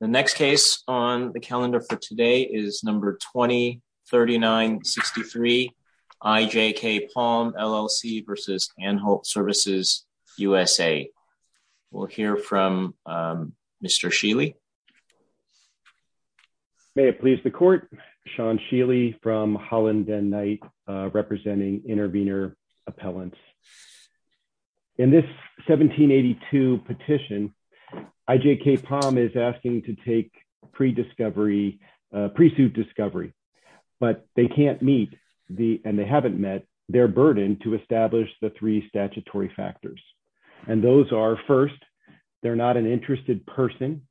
The next case on the calendar for today is number 20-39-63 IJK Palm LLC v Anholt Services USA. We'll hear from Mr. Sheeley. May it please the court, Sean Sheeley from Holland Den Knight representing intervener appellants. In this 1782 petition, IJK Palm is asking to take pre-suit discovery, but they can't meet, and they haven't met, their burden to establish the three statutory factors. And those are, first, they're not an interested person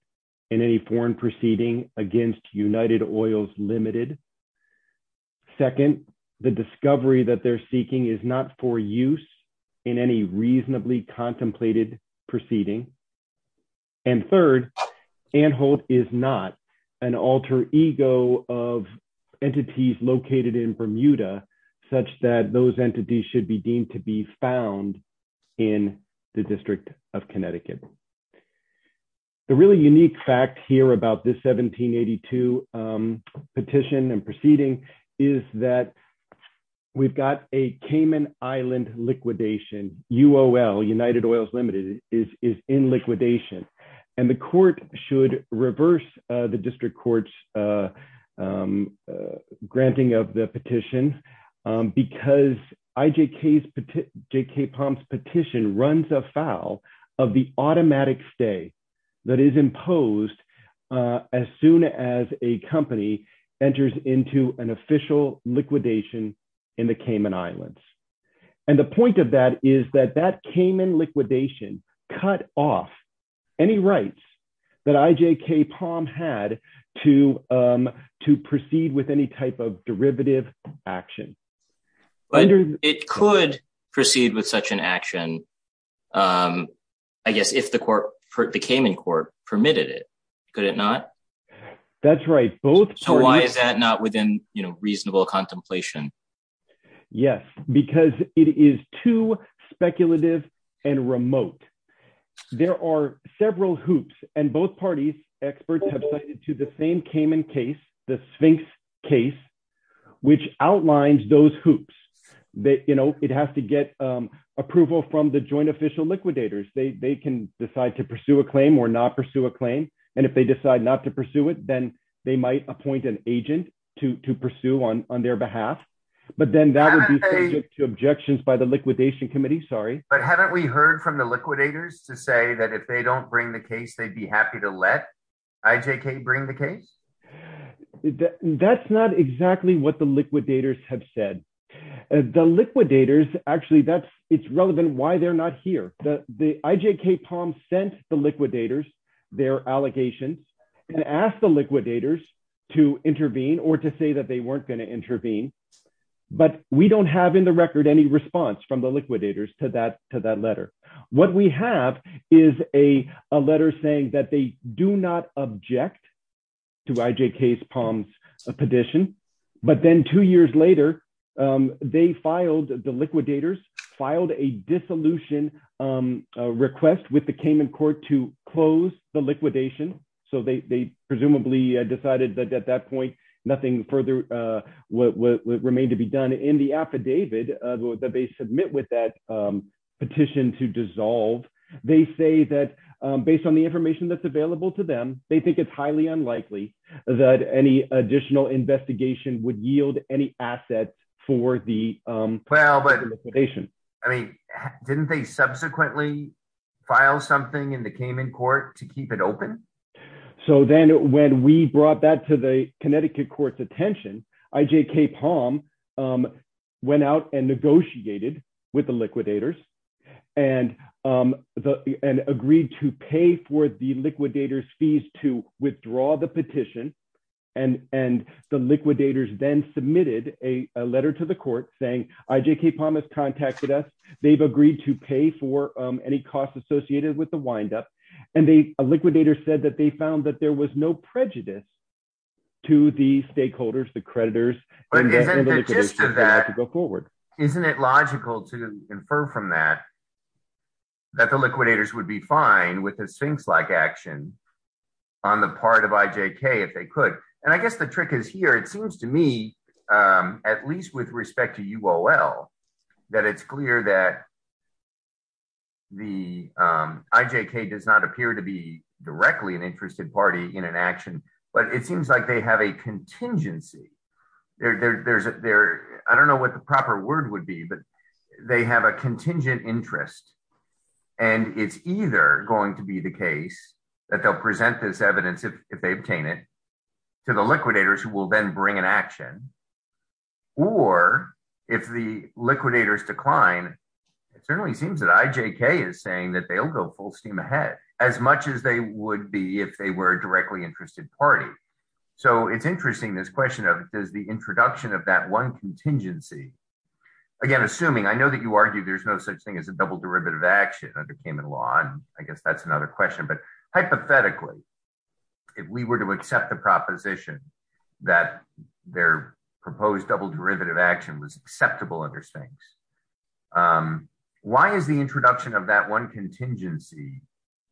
in any foreign proceeding against United Oils Limited. Second, the discovery that they're seeking is not for use in any reasonably contemplated proceeding. And third, Anholt is not an alter ego of entities located in Bermuda, such that those entities should be deemed to be found in the District of Connecticut. The really unique fact here about this 1782 petition and proceeding is that we've got a Cayman Island liquidation, UOL, United Oils Limited is in liquidation. And the court should reverse the district court's granting of the petition runs afoul of the automatic stay that is imposed as soon as a company enters into an official liquidation in the Cayman Islands. And the point of that is that that Cayman liquidation cut off any rights that IJK Palm had to proceed with any type of derivative action. But it could proceed with such an action, I guess, if the Cayman court permitted it, could it not? That's right. So why is that not within, you know, reasonable contemplation? Yes, because it is too speculative and remote. There are several hoops and both parties, experts have cited to the same Cayman case, the Sphinx case, which outlines those hoops that, you know, it has to get approval from the joint official liquidators. They can decide to pursue a claim or not pursue a claim. And if they decide not to pursue it, then they might appoint an agent to pursue on their behalf. But then that would be subject to objections by the liquidation committee. Sorry. But haven't we heard from the liquidators to say that if they don't bring the case, they'd be happy to let IJK bring the case? That's not exactly what the liquidators have said. The liquidators, actually, that's it's relevant why they're not here. The IJK Palm sent the liquidators their allegations and asked the liquidators to intervene or to say that they weren't going to intervene. But we don't have in the record any response from the liquidators to that letter. What we have is a letter saying that they do not object to IJK Palm's petition. But then two years later, they filed, the liquidators filed a dissolution request with the Cayman court to close the liquidation. So they presumably decided that at that point, nothing further would remain to be done in the affidavit that they submit with that petition to dissolve. They say that based on the information that's available to them, they think it's highly unlikely that any additional investigation would yield any assets for the liquidation. I mean, didn't they subsequently file something in the Cayman court to keep it open? So then when we brought that to the Connecticut court's attention, IJK Palm went out and negotiated with the liquidators and agreed to pay for the liquidators fees to withdraw the petition. And the liquidators then submitted a letter to the court saying IJK Palm has contacted us. They've agreed to pay for any costs associated with the liquidator said that they found that there was no prejudice to the stakeholders, the creditors. Isn't it logical to infer from that, that the liquidators would be fine with the Sphinx-like action on the part of IJK if they could. And I guess the trick is here. It seems to me, at least with respect to UOL, that it's clear that the IJK does not appear to be directly an interested party in an action, but it seems like they have a contingency. I don't know what the proper word would be, but they have a contingent interest. And it's either going to be the case that they'll present this evidence if they obtain it to the liquidators who will then bring an action, or if the liquidators decline, it certainly seems that IJK is saying that they'll go full steam ahead as much as they would be if they were a directly interested party. So it's interesting this question of does the introduction of that one contingency, again, assuming I know that you argue there's no such thing as a double derivative action under payment law. And I guess that's another question, but hypothetically, if we were to accept the proposition that their proposed double derivative action was acceptable under Sphinx, why is the introduction of that one contingency,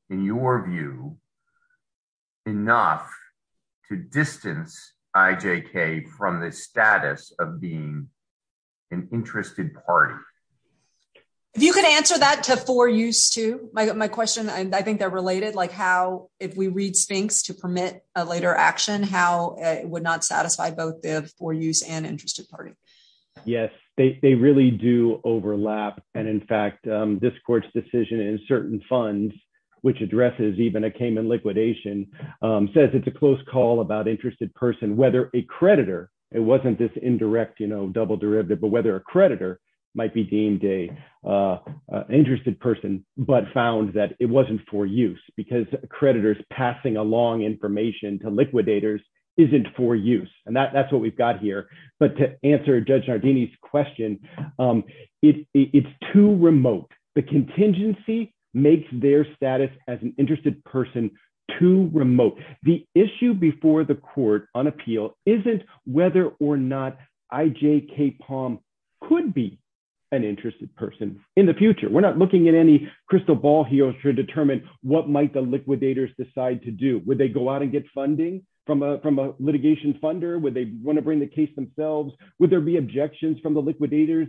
in your view, enough to distance IJK from the status of being an interested party? If you could answer that to for use, too. My question, I think they're related, like how, if we read Sphinx to permit a later action, how it would not satisfy both the for use and interested party. Yes, they really do overlap. And in fact, this court's decision in certain funds, which addresses even a Cayman liquidation, says it's a close call about interested person, whether a creditor, it wasn't this indirect, you know, double derivative, but whether a creditor might be deemed an interested person, but found that it wasn't for use because creditors passing along information to liquidators isn't for use. And that's what we've got here. But to answer Judge Nardini's question, it's too remote. The contingency makes their status as an interested person too remote. The issue before the court on appeal isn't whether or not IJK Palm could be an interested person in the future. We're not looking at any crystal ball here to determine what might the liquidators decide to do. Would they go out and get funding from a litigation funder? Would they want to bring the case themselves? Would there be objections from the liquidators,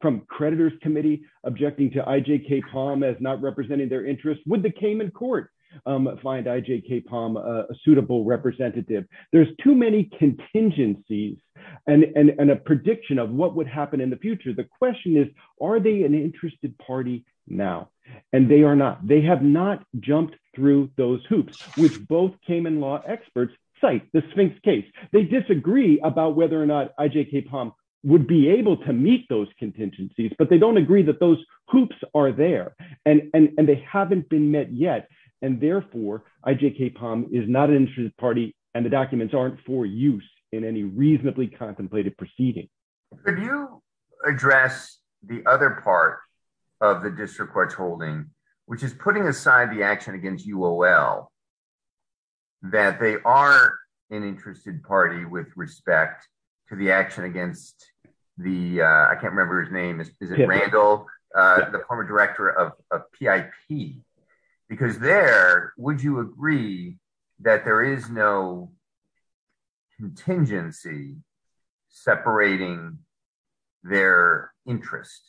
from creditors committee objecting to IJK Palm as not representing their interests? Would the Cayman court find IJK Palm a suitable representative? There's too many contingencies and a prediction of what would happen in the future. The question is, are they an interested party now? And they are not. They have not jumped through those hoops, which both Cayman law experts cite the Sphinx case. They disagree about whether or not IJK Palm would be able to meet those contingencies, but they don't agree that those hoops are there. And they haven't been met yet. And therefore, IJK Palm is not an interested party and the documents aren't for use in any reasonably contemplated proceeding. Could you address the other part of the district court's holding, which is putting aside the action against UOL, that they are an interested party with respect to the action against the, I can't remember his name, PIP, because there, would you agree that there is no contingency separating their interest?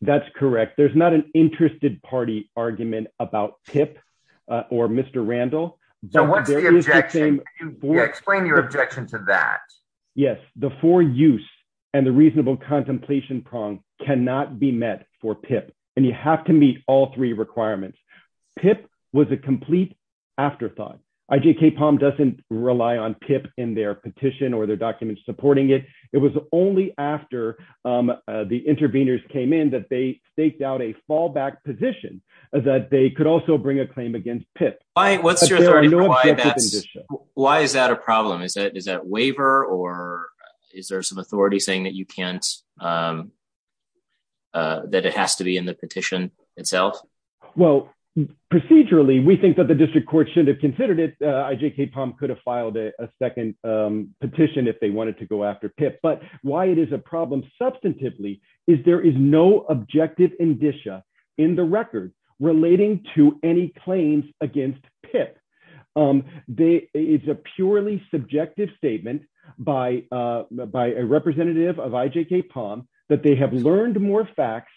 That's correct. There's not an interested party argument about TIP or Mr. Randall. So what's the objection? Explain your objection to that. Yes, the for use and the reasonable contemplation prong cannot be met for PIP. And you have to meet all three requirements. PIP was a complete afterthought. IJK Palm doesn't rely on PIP in their petition or their documents supporting it. It was only after the interveners came in that they staked out a fallback position that they could also bring a claim against PIP. What's your, why is that a problem? Is that, is that waiver or is there some authority saying that you can't, that it has to be in the petition itself? Well, procedurally, we think that the district court should have considered it. IJK Palm could have filed a second petition if they wanted to go after PIP, but why it is a problem substantively is there is no objective indicia in the record relating to any claims against PIP. It's a purely subjective statement by a representative of IJK Palm that they have learned more facts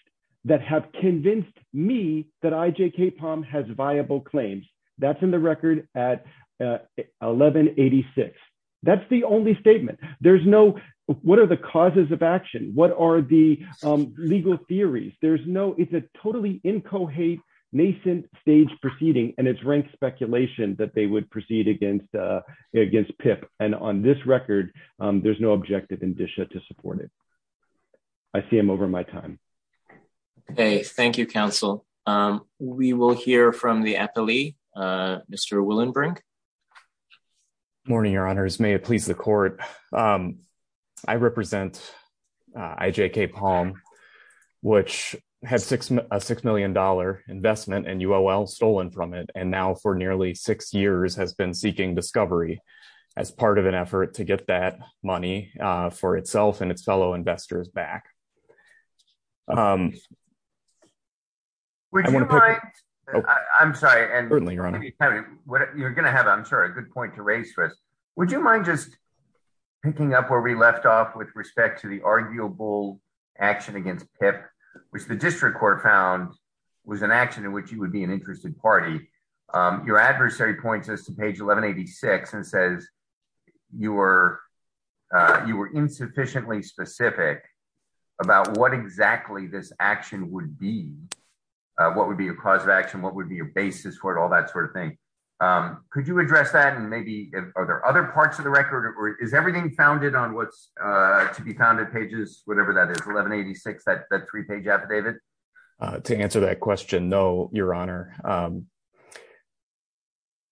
that have convinced me that IJK Palm has viable claims. That's in the record at 1186. That's the only statement. There's no, what are the causes of action? What are the legal theories? There's no, it's a totally incoherent nascent stage proceeding and it's ranked speculation that they would proceed against PIP. And on this record, there's no objective indicia to support it. I see I'm over my time. Okay. Thank you, counsel. We will hear from the appellee, Mr. Willenbrink. Morning, your honors. May it please the court. I represent IJK Palm, which has a $6 million investment and UOL stolen from it. And now for nearly six years has been seeking discovery as part of an effort to get that money for itself and its fellow investors back. Would you mind? I'm sorry. Certainly, your honor. You're going to have, I'm sure, a good point to raise for us. Would you mind just picking up where we left off with respect to the arguable action against PIP, which the district court found was an action in which you would be an interested party. Your adversary points us to page 1186 and says you were insufficiently specific about what exactly this action would be. All that sort of thing. Could you address that? And maybe are there other parts of the record? Is everything founded on what's to be found at pages, whatever that is, 1186, that three-page affidavit? To answer that question, no, your honor.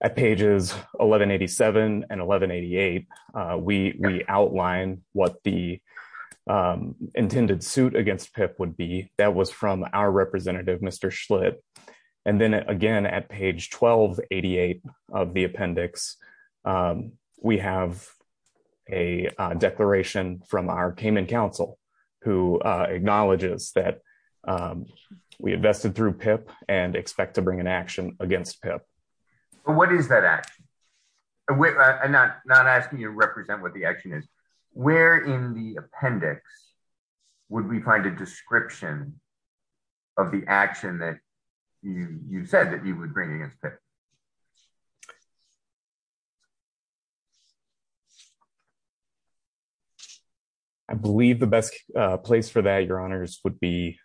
At pages 1187 and 1188, we outline what the intended suit against PIP would be. That was from our representative, Mr. Schlitt. And then, again, at page 1288 of the appendix, we have a declaration from our Cayman council who acknowledges that we invested through PIP and expect to bring an action against PIP. What is that action? I'm not asking you to represent what the action is. Where in the you said that you would bring it against PIP. I believe the best place for that, your honors, would be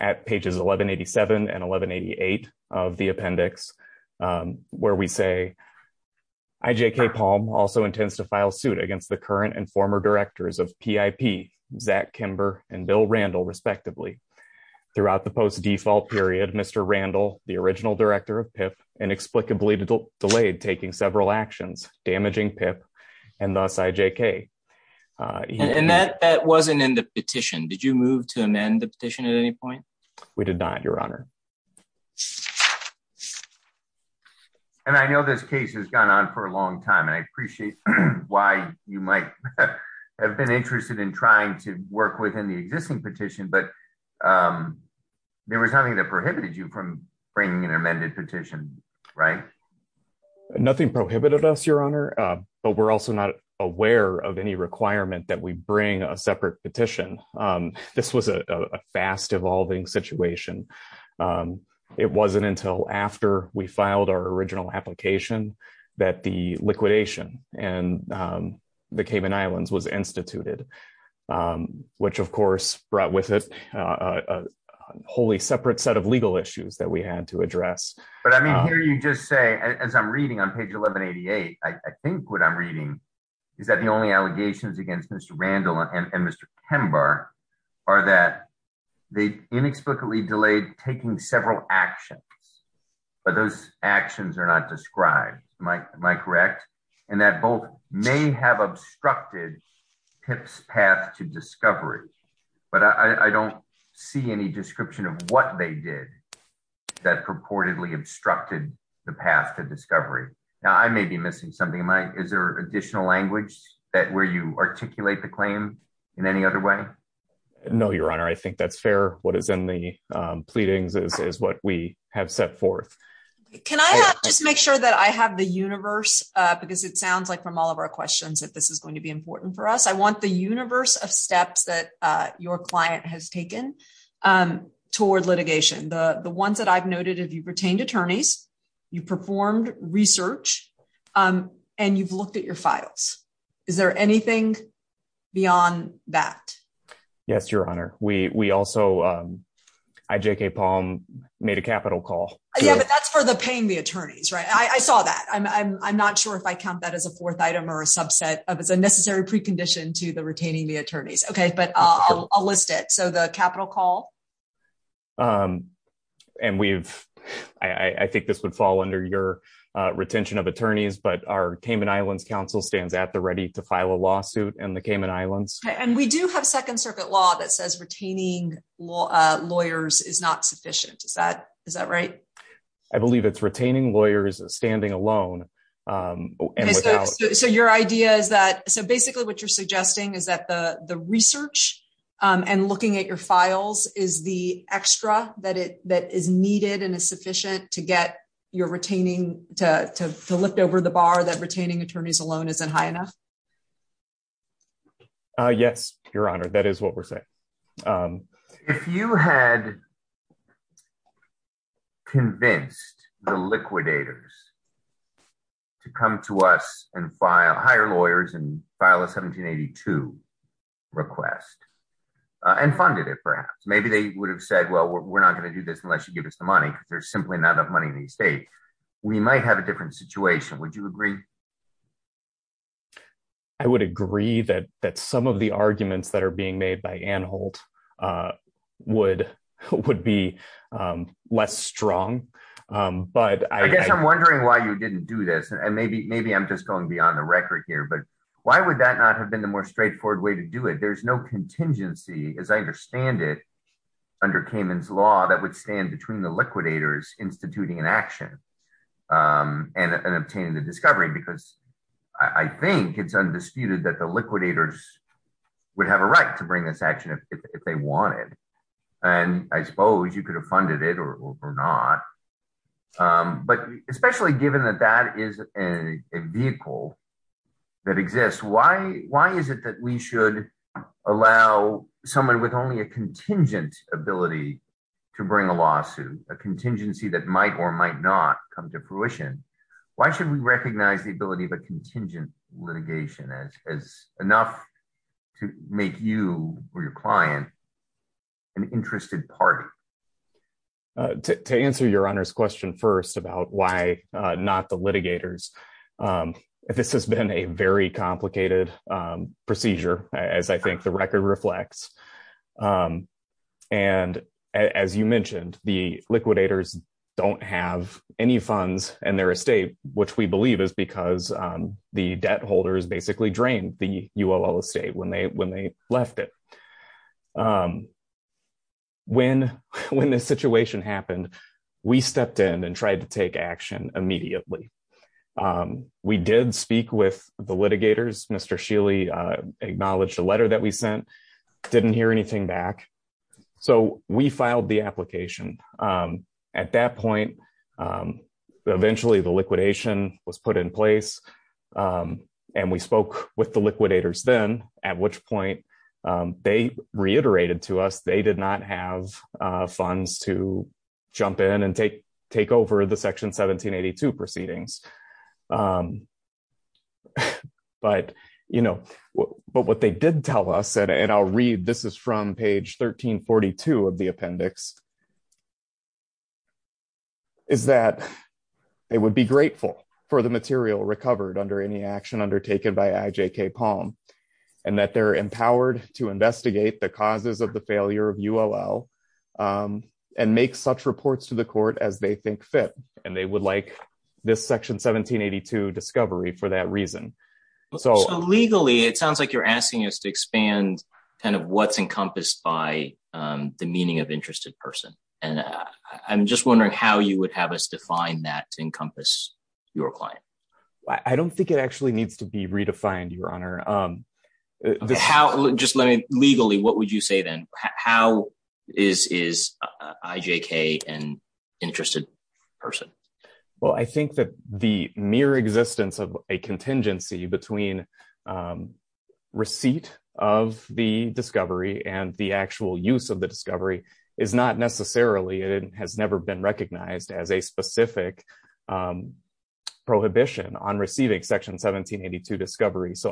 at pages 1187 and 1188 of the appendix where we say IJK Palm also intends to file suit against the current and former directors of PIP, Zach Kimber and Bill Randall, respectively. Throughout the post-default period, Mr. Randall, the original director of PIP, inexplicably delayed taking several actions, damaging PIP, and thus IJK. And that wasn't in the petition. Did you move to amend the petition at any point? We did not, your honor. And I know this case has gone on for a long time, and I appreciate why you might have been trying to work within the existing petition, but there was nothing that prohibited you from bringing an amended petition, right? Nothing prohibited us, your honor, but we're also not aware of any requirement that we bring a separate petition. This was a fast evolving situation. It wasn't until after we filed our original application that the liquidation and the Cayman Islands was instituted, which of course brought with it a wholly separate set of legal issues that we had to address. But I mean, here you just say, as I'm reading on page 1188, I think what I'm reading is that the only allegations against Mr. Randall and Mr. Kimber are that they inexplicably delayed taking several actions, but those actions are not obstructing PIP's path to discovery. But I don't see any description of what they did that purportedly obstructed the path to discovery. Now, I may be missing something, Mike. Is there additional language where you articulate the claim in any other way? No, your honor. I think that's fair. What is in the pleadings is what we have set forth. Can I just make sure that I have the universe, because it sounds like from all of our questions, that this is going to be important for us. I want the universe of steps that your client has taken toward litigation. The ones that I've noted, if you've retained attorneys, you performed research, and you've looked at your files. Is there anything beyond that? Yes, your honor. We also, IJK Palm made a capital call. Yeah, but that's for the paying the attorneys, right? I saw that. I'm not sure if I count that as a fourth item or a subset of as a necessary precondition to the retaining the attorneys. Okay, but I'll list it. So the capital call? I think this would fall under your retention of attorneys, but our Cayman Islands Council stands at the ready to file a lawsuit in the Cayman Islands. And we do have second circuit law that says retaining lawyers is not sufficient. Is that right? I believe it's retaining lawyers standing alone. So your idea is that, so basically what you're suggesting is that the research and looking at your files is the extra that is needed and is sufficient to lift over the bar that retaining attorneys alone isn't high enough? Yes, your honor. That is what we're saying. If you had convinced the liquidators to come to us and hire lawyers and file a 1782 request and funded it perhaps, maybe they would have said, well, we're not going to do this unless you give us the money. There's simply not enough money in the estate. We might have a different situation. Would you agree? I would agree that some of the arguments that are being made by Ann Holt would be less strong, but I guess I'm wondering why you didn't do this. And maybe I'm just going beyond the record here, but why would that not have been the more straightforward way to do it? There's no contingency as I understand it under Cayman's law that would stand between the liquidators instituting an action and obtaining the discovery, because I think it's undisputed that the liquidators would have a right to bring this action if they wanted. And I suppose you could have funded it or not, but especially given that that is a vehicle that exists, why is it that we should allow someone with only a contingent ability to bring a lawsuit, a contingency that might or might not come to fruition? Why should we recognize the ability of a contingent litigation as enough to make you or your client an interested party? To answer your Honor's question first about why not the litigators, this has been a very complicated procedure as I think the record reflects. And as you mentioned, the liquidators don't have any funds in their estate, which we believe is because the debt holders basically drained the UOL estate when they left it. When this situation happened, we stepped in and tried to take action immediately. We did speak with the litigators. Mr. Sheely acknowledged the letter that we sent, didn't hear anything back. So we filed the application. At that point, eventually the liquidation was put in place and we spoke with the liquidators then, at which point they did not have funds to jump in and take over the Section 1782 proceedings. But what they did tell us, and I'll read, this is from page 1342 of the appendix, is that they would be grateful for the material recovered under any action undertaken by IJK Palm and that they're empowered to investigate the causes of the failure of UOL and make such reports to the court as they think fit. And they would like this Section 1782 discovery for that reason. So legally, it sounds like you're asking us to expand kind of what's encompassed by the meaning of interested person. And I'm just wondering how you would have us define that to encompass your client. I don't think it actually needs to be defined, Your Honor. Just let me, legally, what would you say then? How is IJK an interested person? Well, I think that the mere existence of a contingency between receipt of the discovery and the actual use of the discovery is not necessarily, it has never been recognized as a So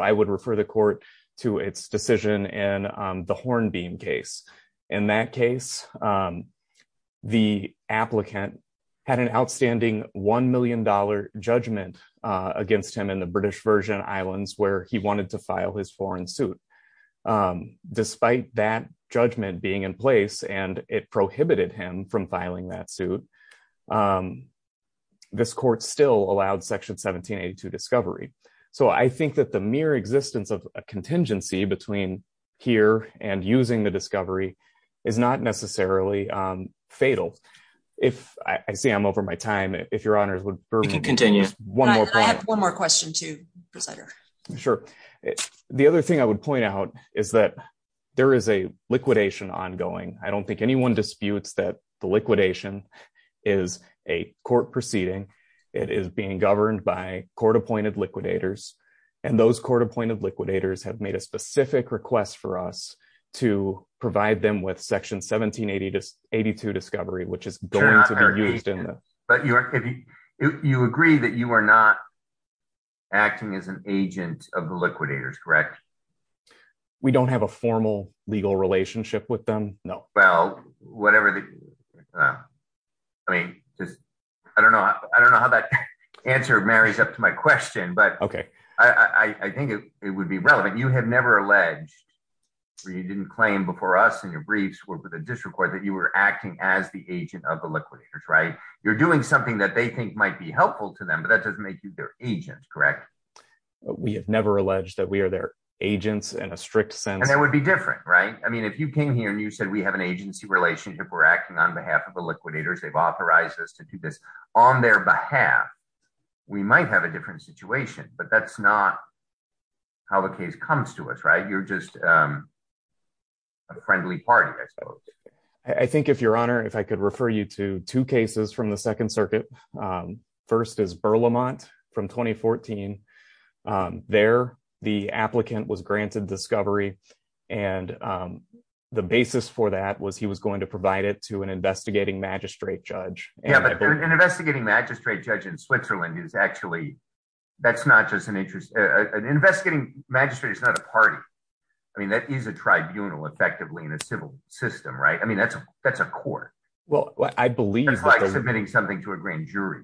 I would refer the court to its decision in the Hornbeam case. In that case, the applicant had an outstanding $1 million judgment against him in the British Virgin Islands where he wanted to file his foreign suit. Despite that judgment being in place, and it prohibited him from filing that suit, this court still allowed Section 1782 discovery. So I think that the mere existence of a contingency between here and using the discovery is not necessarily fatal. If, I see I'm over my time, if Your Honors would permit me. You can continue. I have one more question too, Prosecutor. Sure. The other thing I would point out is that there is a liquidation ongoing. I don't think anyone disputes that the liquidation is a court of liquidators. And those court appointed liquidators have made a specific request for us to provide them with Section 1782 discovery, which is going to be used in that. But you are, you agree that you are not acting as an agent of the liquidators, correct? We don't have a formal legal relationship with them. No. Well, whatever the, I mean, I don't know. I don't know how that answer marries up to my question, but I think it would be relevant. You have never alleged, or you didn't claim before us in your briefs with the district court that you were acting as the agent of the liquidators, right? You're doing something that they think might be helpful to them, but that doesn't make you their agent, correct? We have never alleged that we are their agents in a strict sense. And that would be different, right? I mean, if you came here and you said we have an agency relationship, we're acting on their behalf. We might have a different situation, but that's not how the case comes to us, right? You're just a friendly party, I suppose. I think if your honor, if I could refer you to two cases from the second circuit, first is Burlemont from 2014. There, the applicant was granted discovery. And the basis for that was he was going to provide it to an investigating judge. Yeah, but an investigating magistrate judge in Switzerland is actually, that's not just an interest. An investigating magistrate is not a party. I mean, that is a tribunal effectively in a civil system, right? I mean, that's a court. It's like submitting something to a grand jury.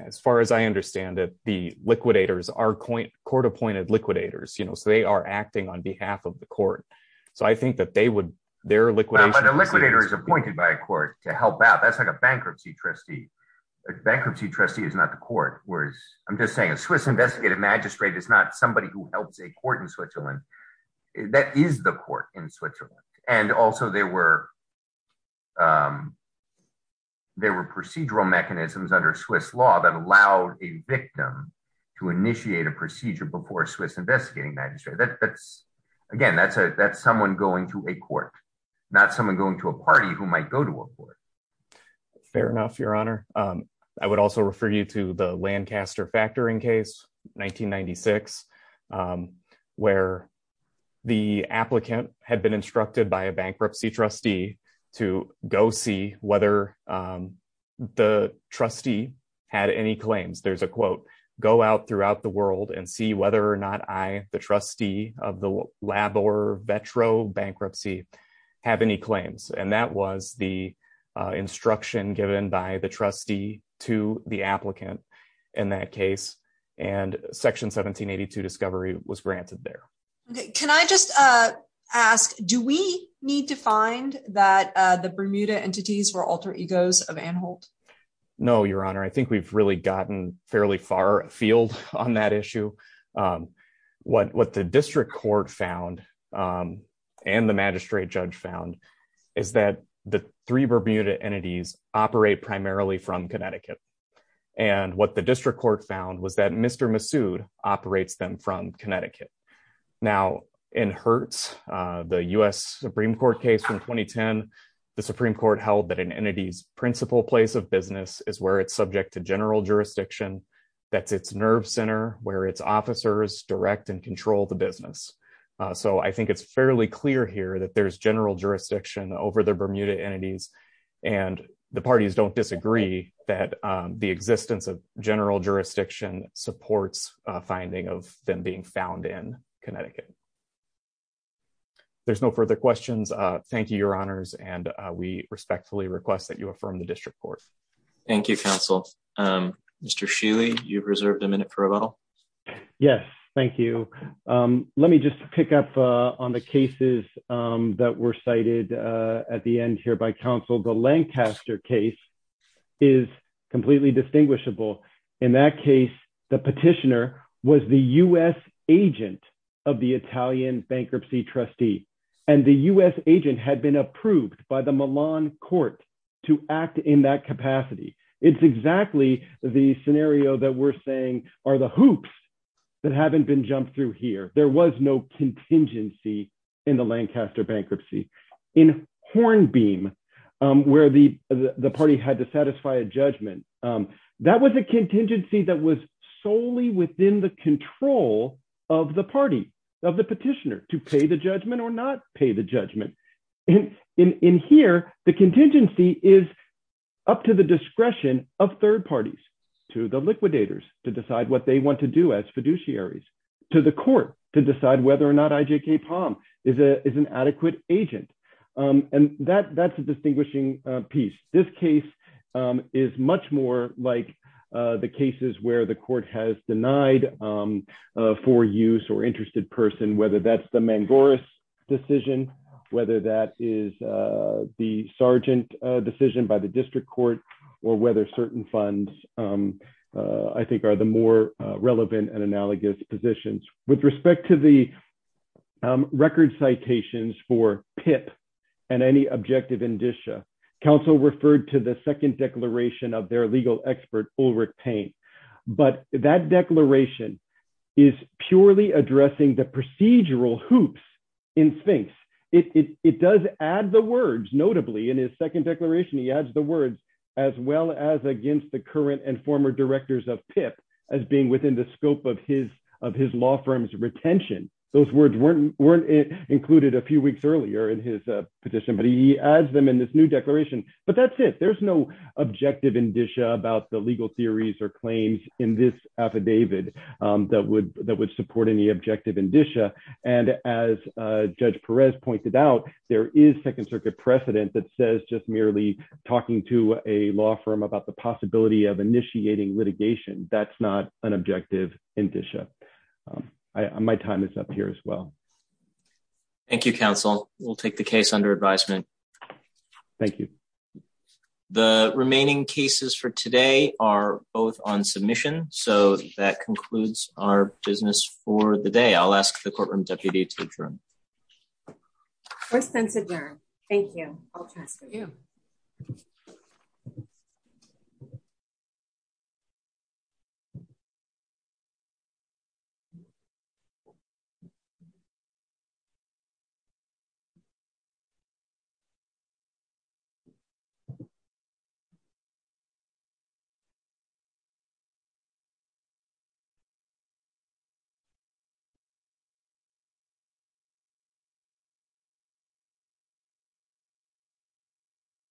As far as I understand it, the liquidators are court appointed liquidators, so they are acting on behalf of the court. So I think that they would, their liquidation... But a liquidator is appointed by a court to help out. That's like a bankruptcy trustee. A bankruptcy trustee is not the court, whereas I'm just saying a Swiss investigative magistrate is not somebody who helps a court in Switzerland. That is the court in Switzerland. And also there were procedural mechanisms under Swiss law that allowed a victim to initiate a procedure before a Swiss investigating magistrate. Again, that's someone going to a court, not someone going to a party who might go to a court. Fair enough, Your Honor. I would also refer you to the Lancaster factoring case, 1996, where the applicant had been instructed by a bankruptcy trustee to go see whether the trustee of the Labor-Vetro bankruptcy had any claims. And that was the instruction given by the trustee to the applicant in that case. And Section 1782 discovery was granted there. Can I just ask, do we need to find that the Bermuda entities were alter egos of Anhalt? No, Your Honor. I think we've really gotten fairly far afield on that issue. What the district court found, and the magistrate judge found, is that the three Bermuda entities operate primarily from Connecticut. And what the district court found was that Mr. Massoud operates them from Connecticut. Now, in Hertz, the U.S. Supreme Court case from 2010, the Supreme Court held that an entity's place of business is where it's subject to general jurisdiction. That's its nerve center, where its officers direct and control the business. So I think it's fairly clear here that there's general jurisdiction over the Bermuda entities. And the parties don't disagree that the existence of general jurisdiction supports a finding of them being found in Connecticut. There's no further questions. Thank you, Your Honors. And we respectfully request that you confirm the district court. Thank you, counsel. Mr. Sheely, you've reserved a minute for rebuttal. Yes, thank you. Let me just pick up on the cases that were cited at the end here by counsel. The Lancaster case is completely distinguishable. In that case, the petitioner was the U.S. agent of the Italian bankruptcy trustee. And the U.S. agent had been approved by the Milan court to act in that capacity. It's exactly the scenario that we're saying are the hoops that haven't been jumped through here. There was no contingency in the Lancaster bankruptcy. In Hornbeam, where the party had to satisfy a judgment, that was a contingency that was solely within the control of the party, of the petitioner, to pay the judgment or not pay the judgment. The contingency is up to the discretion of third parties, to the liquidators, to decide what they want to do as fiduciaries, to the court, to decide whether or not IJK Palm is an adequate agent. And that's a distinguishing piece. This case is much more like the cases where the court has denied for use or interested person, whether that's the Mangoris decision, whether that is the Sargent decision by the district court, or whether certain funds, I think, are the more relevant and analogous positions. With respect to the record citations for PIP and any objective indicia, counsel referred to the second declaration of their legal expert, Ulrich Payne. But that notably in his second declaration, he adds the words, as well as against the current and former directors of PIP, as being within the scope of his law firm's retention. Those words weren't included a few weeks earlier in his petition, but he adds them in this new declaration. But that's it. There's no objective indicia about the legal theories or claims in this affidavit that would support any objective indicia. And as Judge Perez pointed out, there is second circuit precedent that says just merely talking to a law firm about the possibility of initiating litigation. That's not an objective indicia. My time is up here as well. Thank you, counsel. We'll take the case under advisement. Thank you. The remaining cases for today are both on submission. So that concludes our business for the day. I'll ask the courtroom deputy to adjourn. First sentence adjourned. Thank you. Thank you.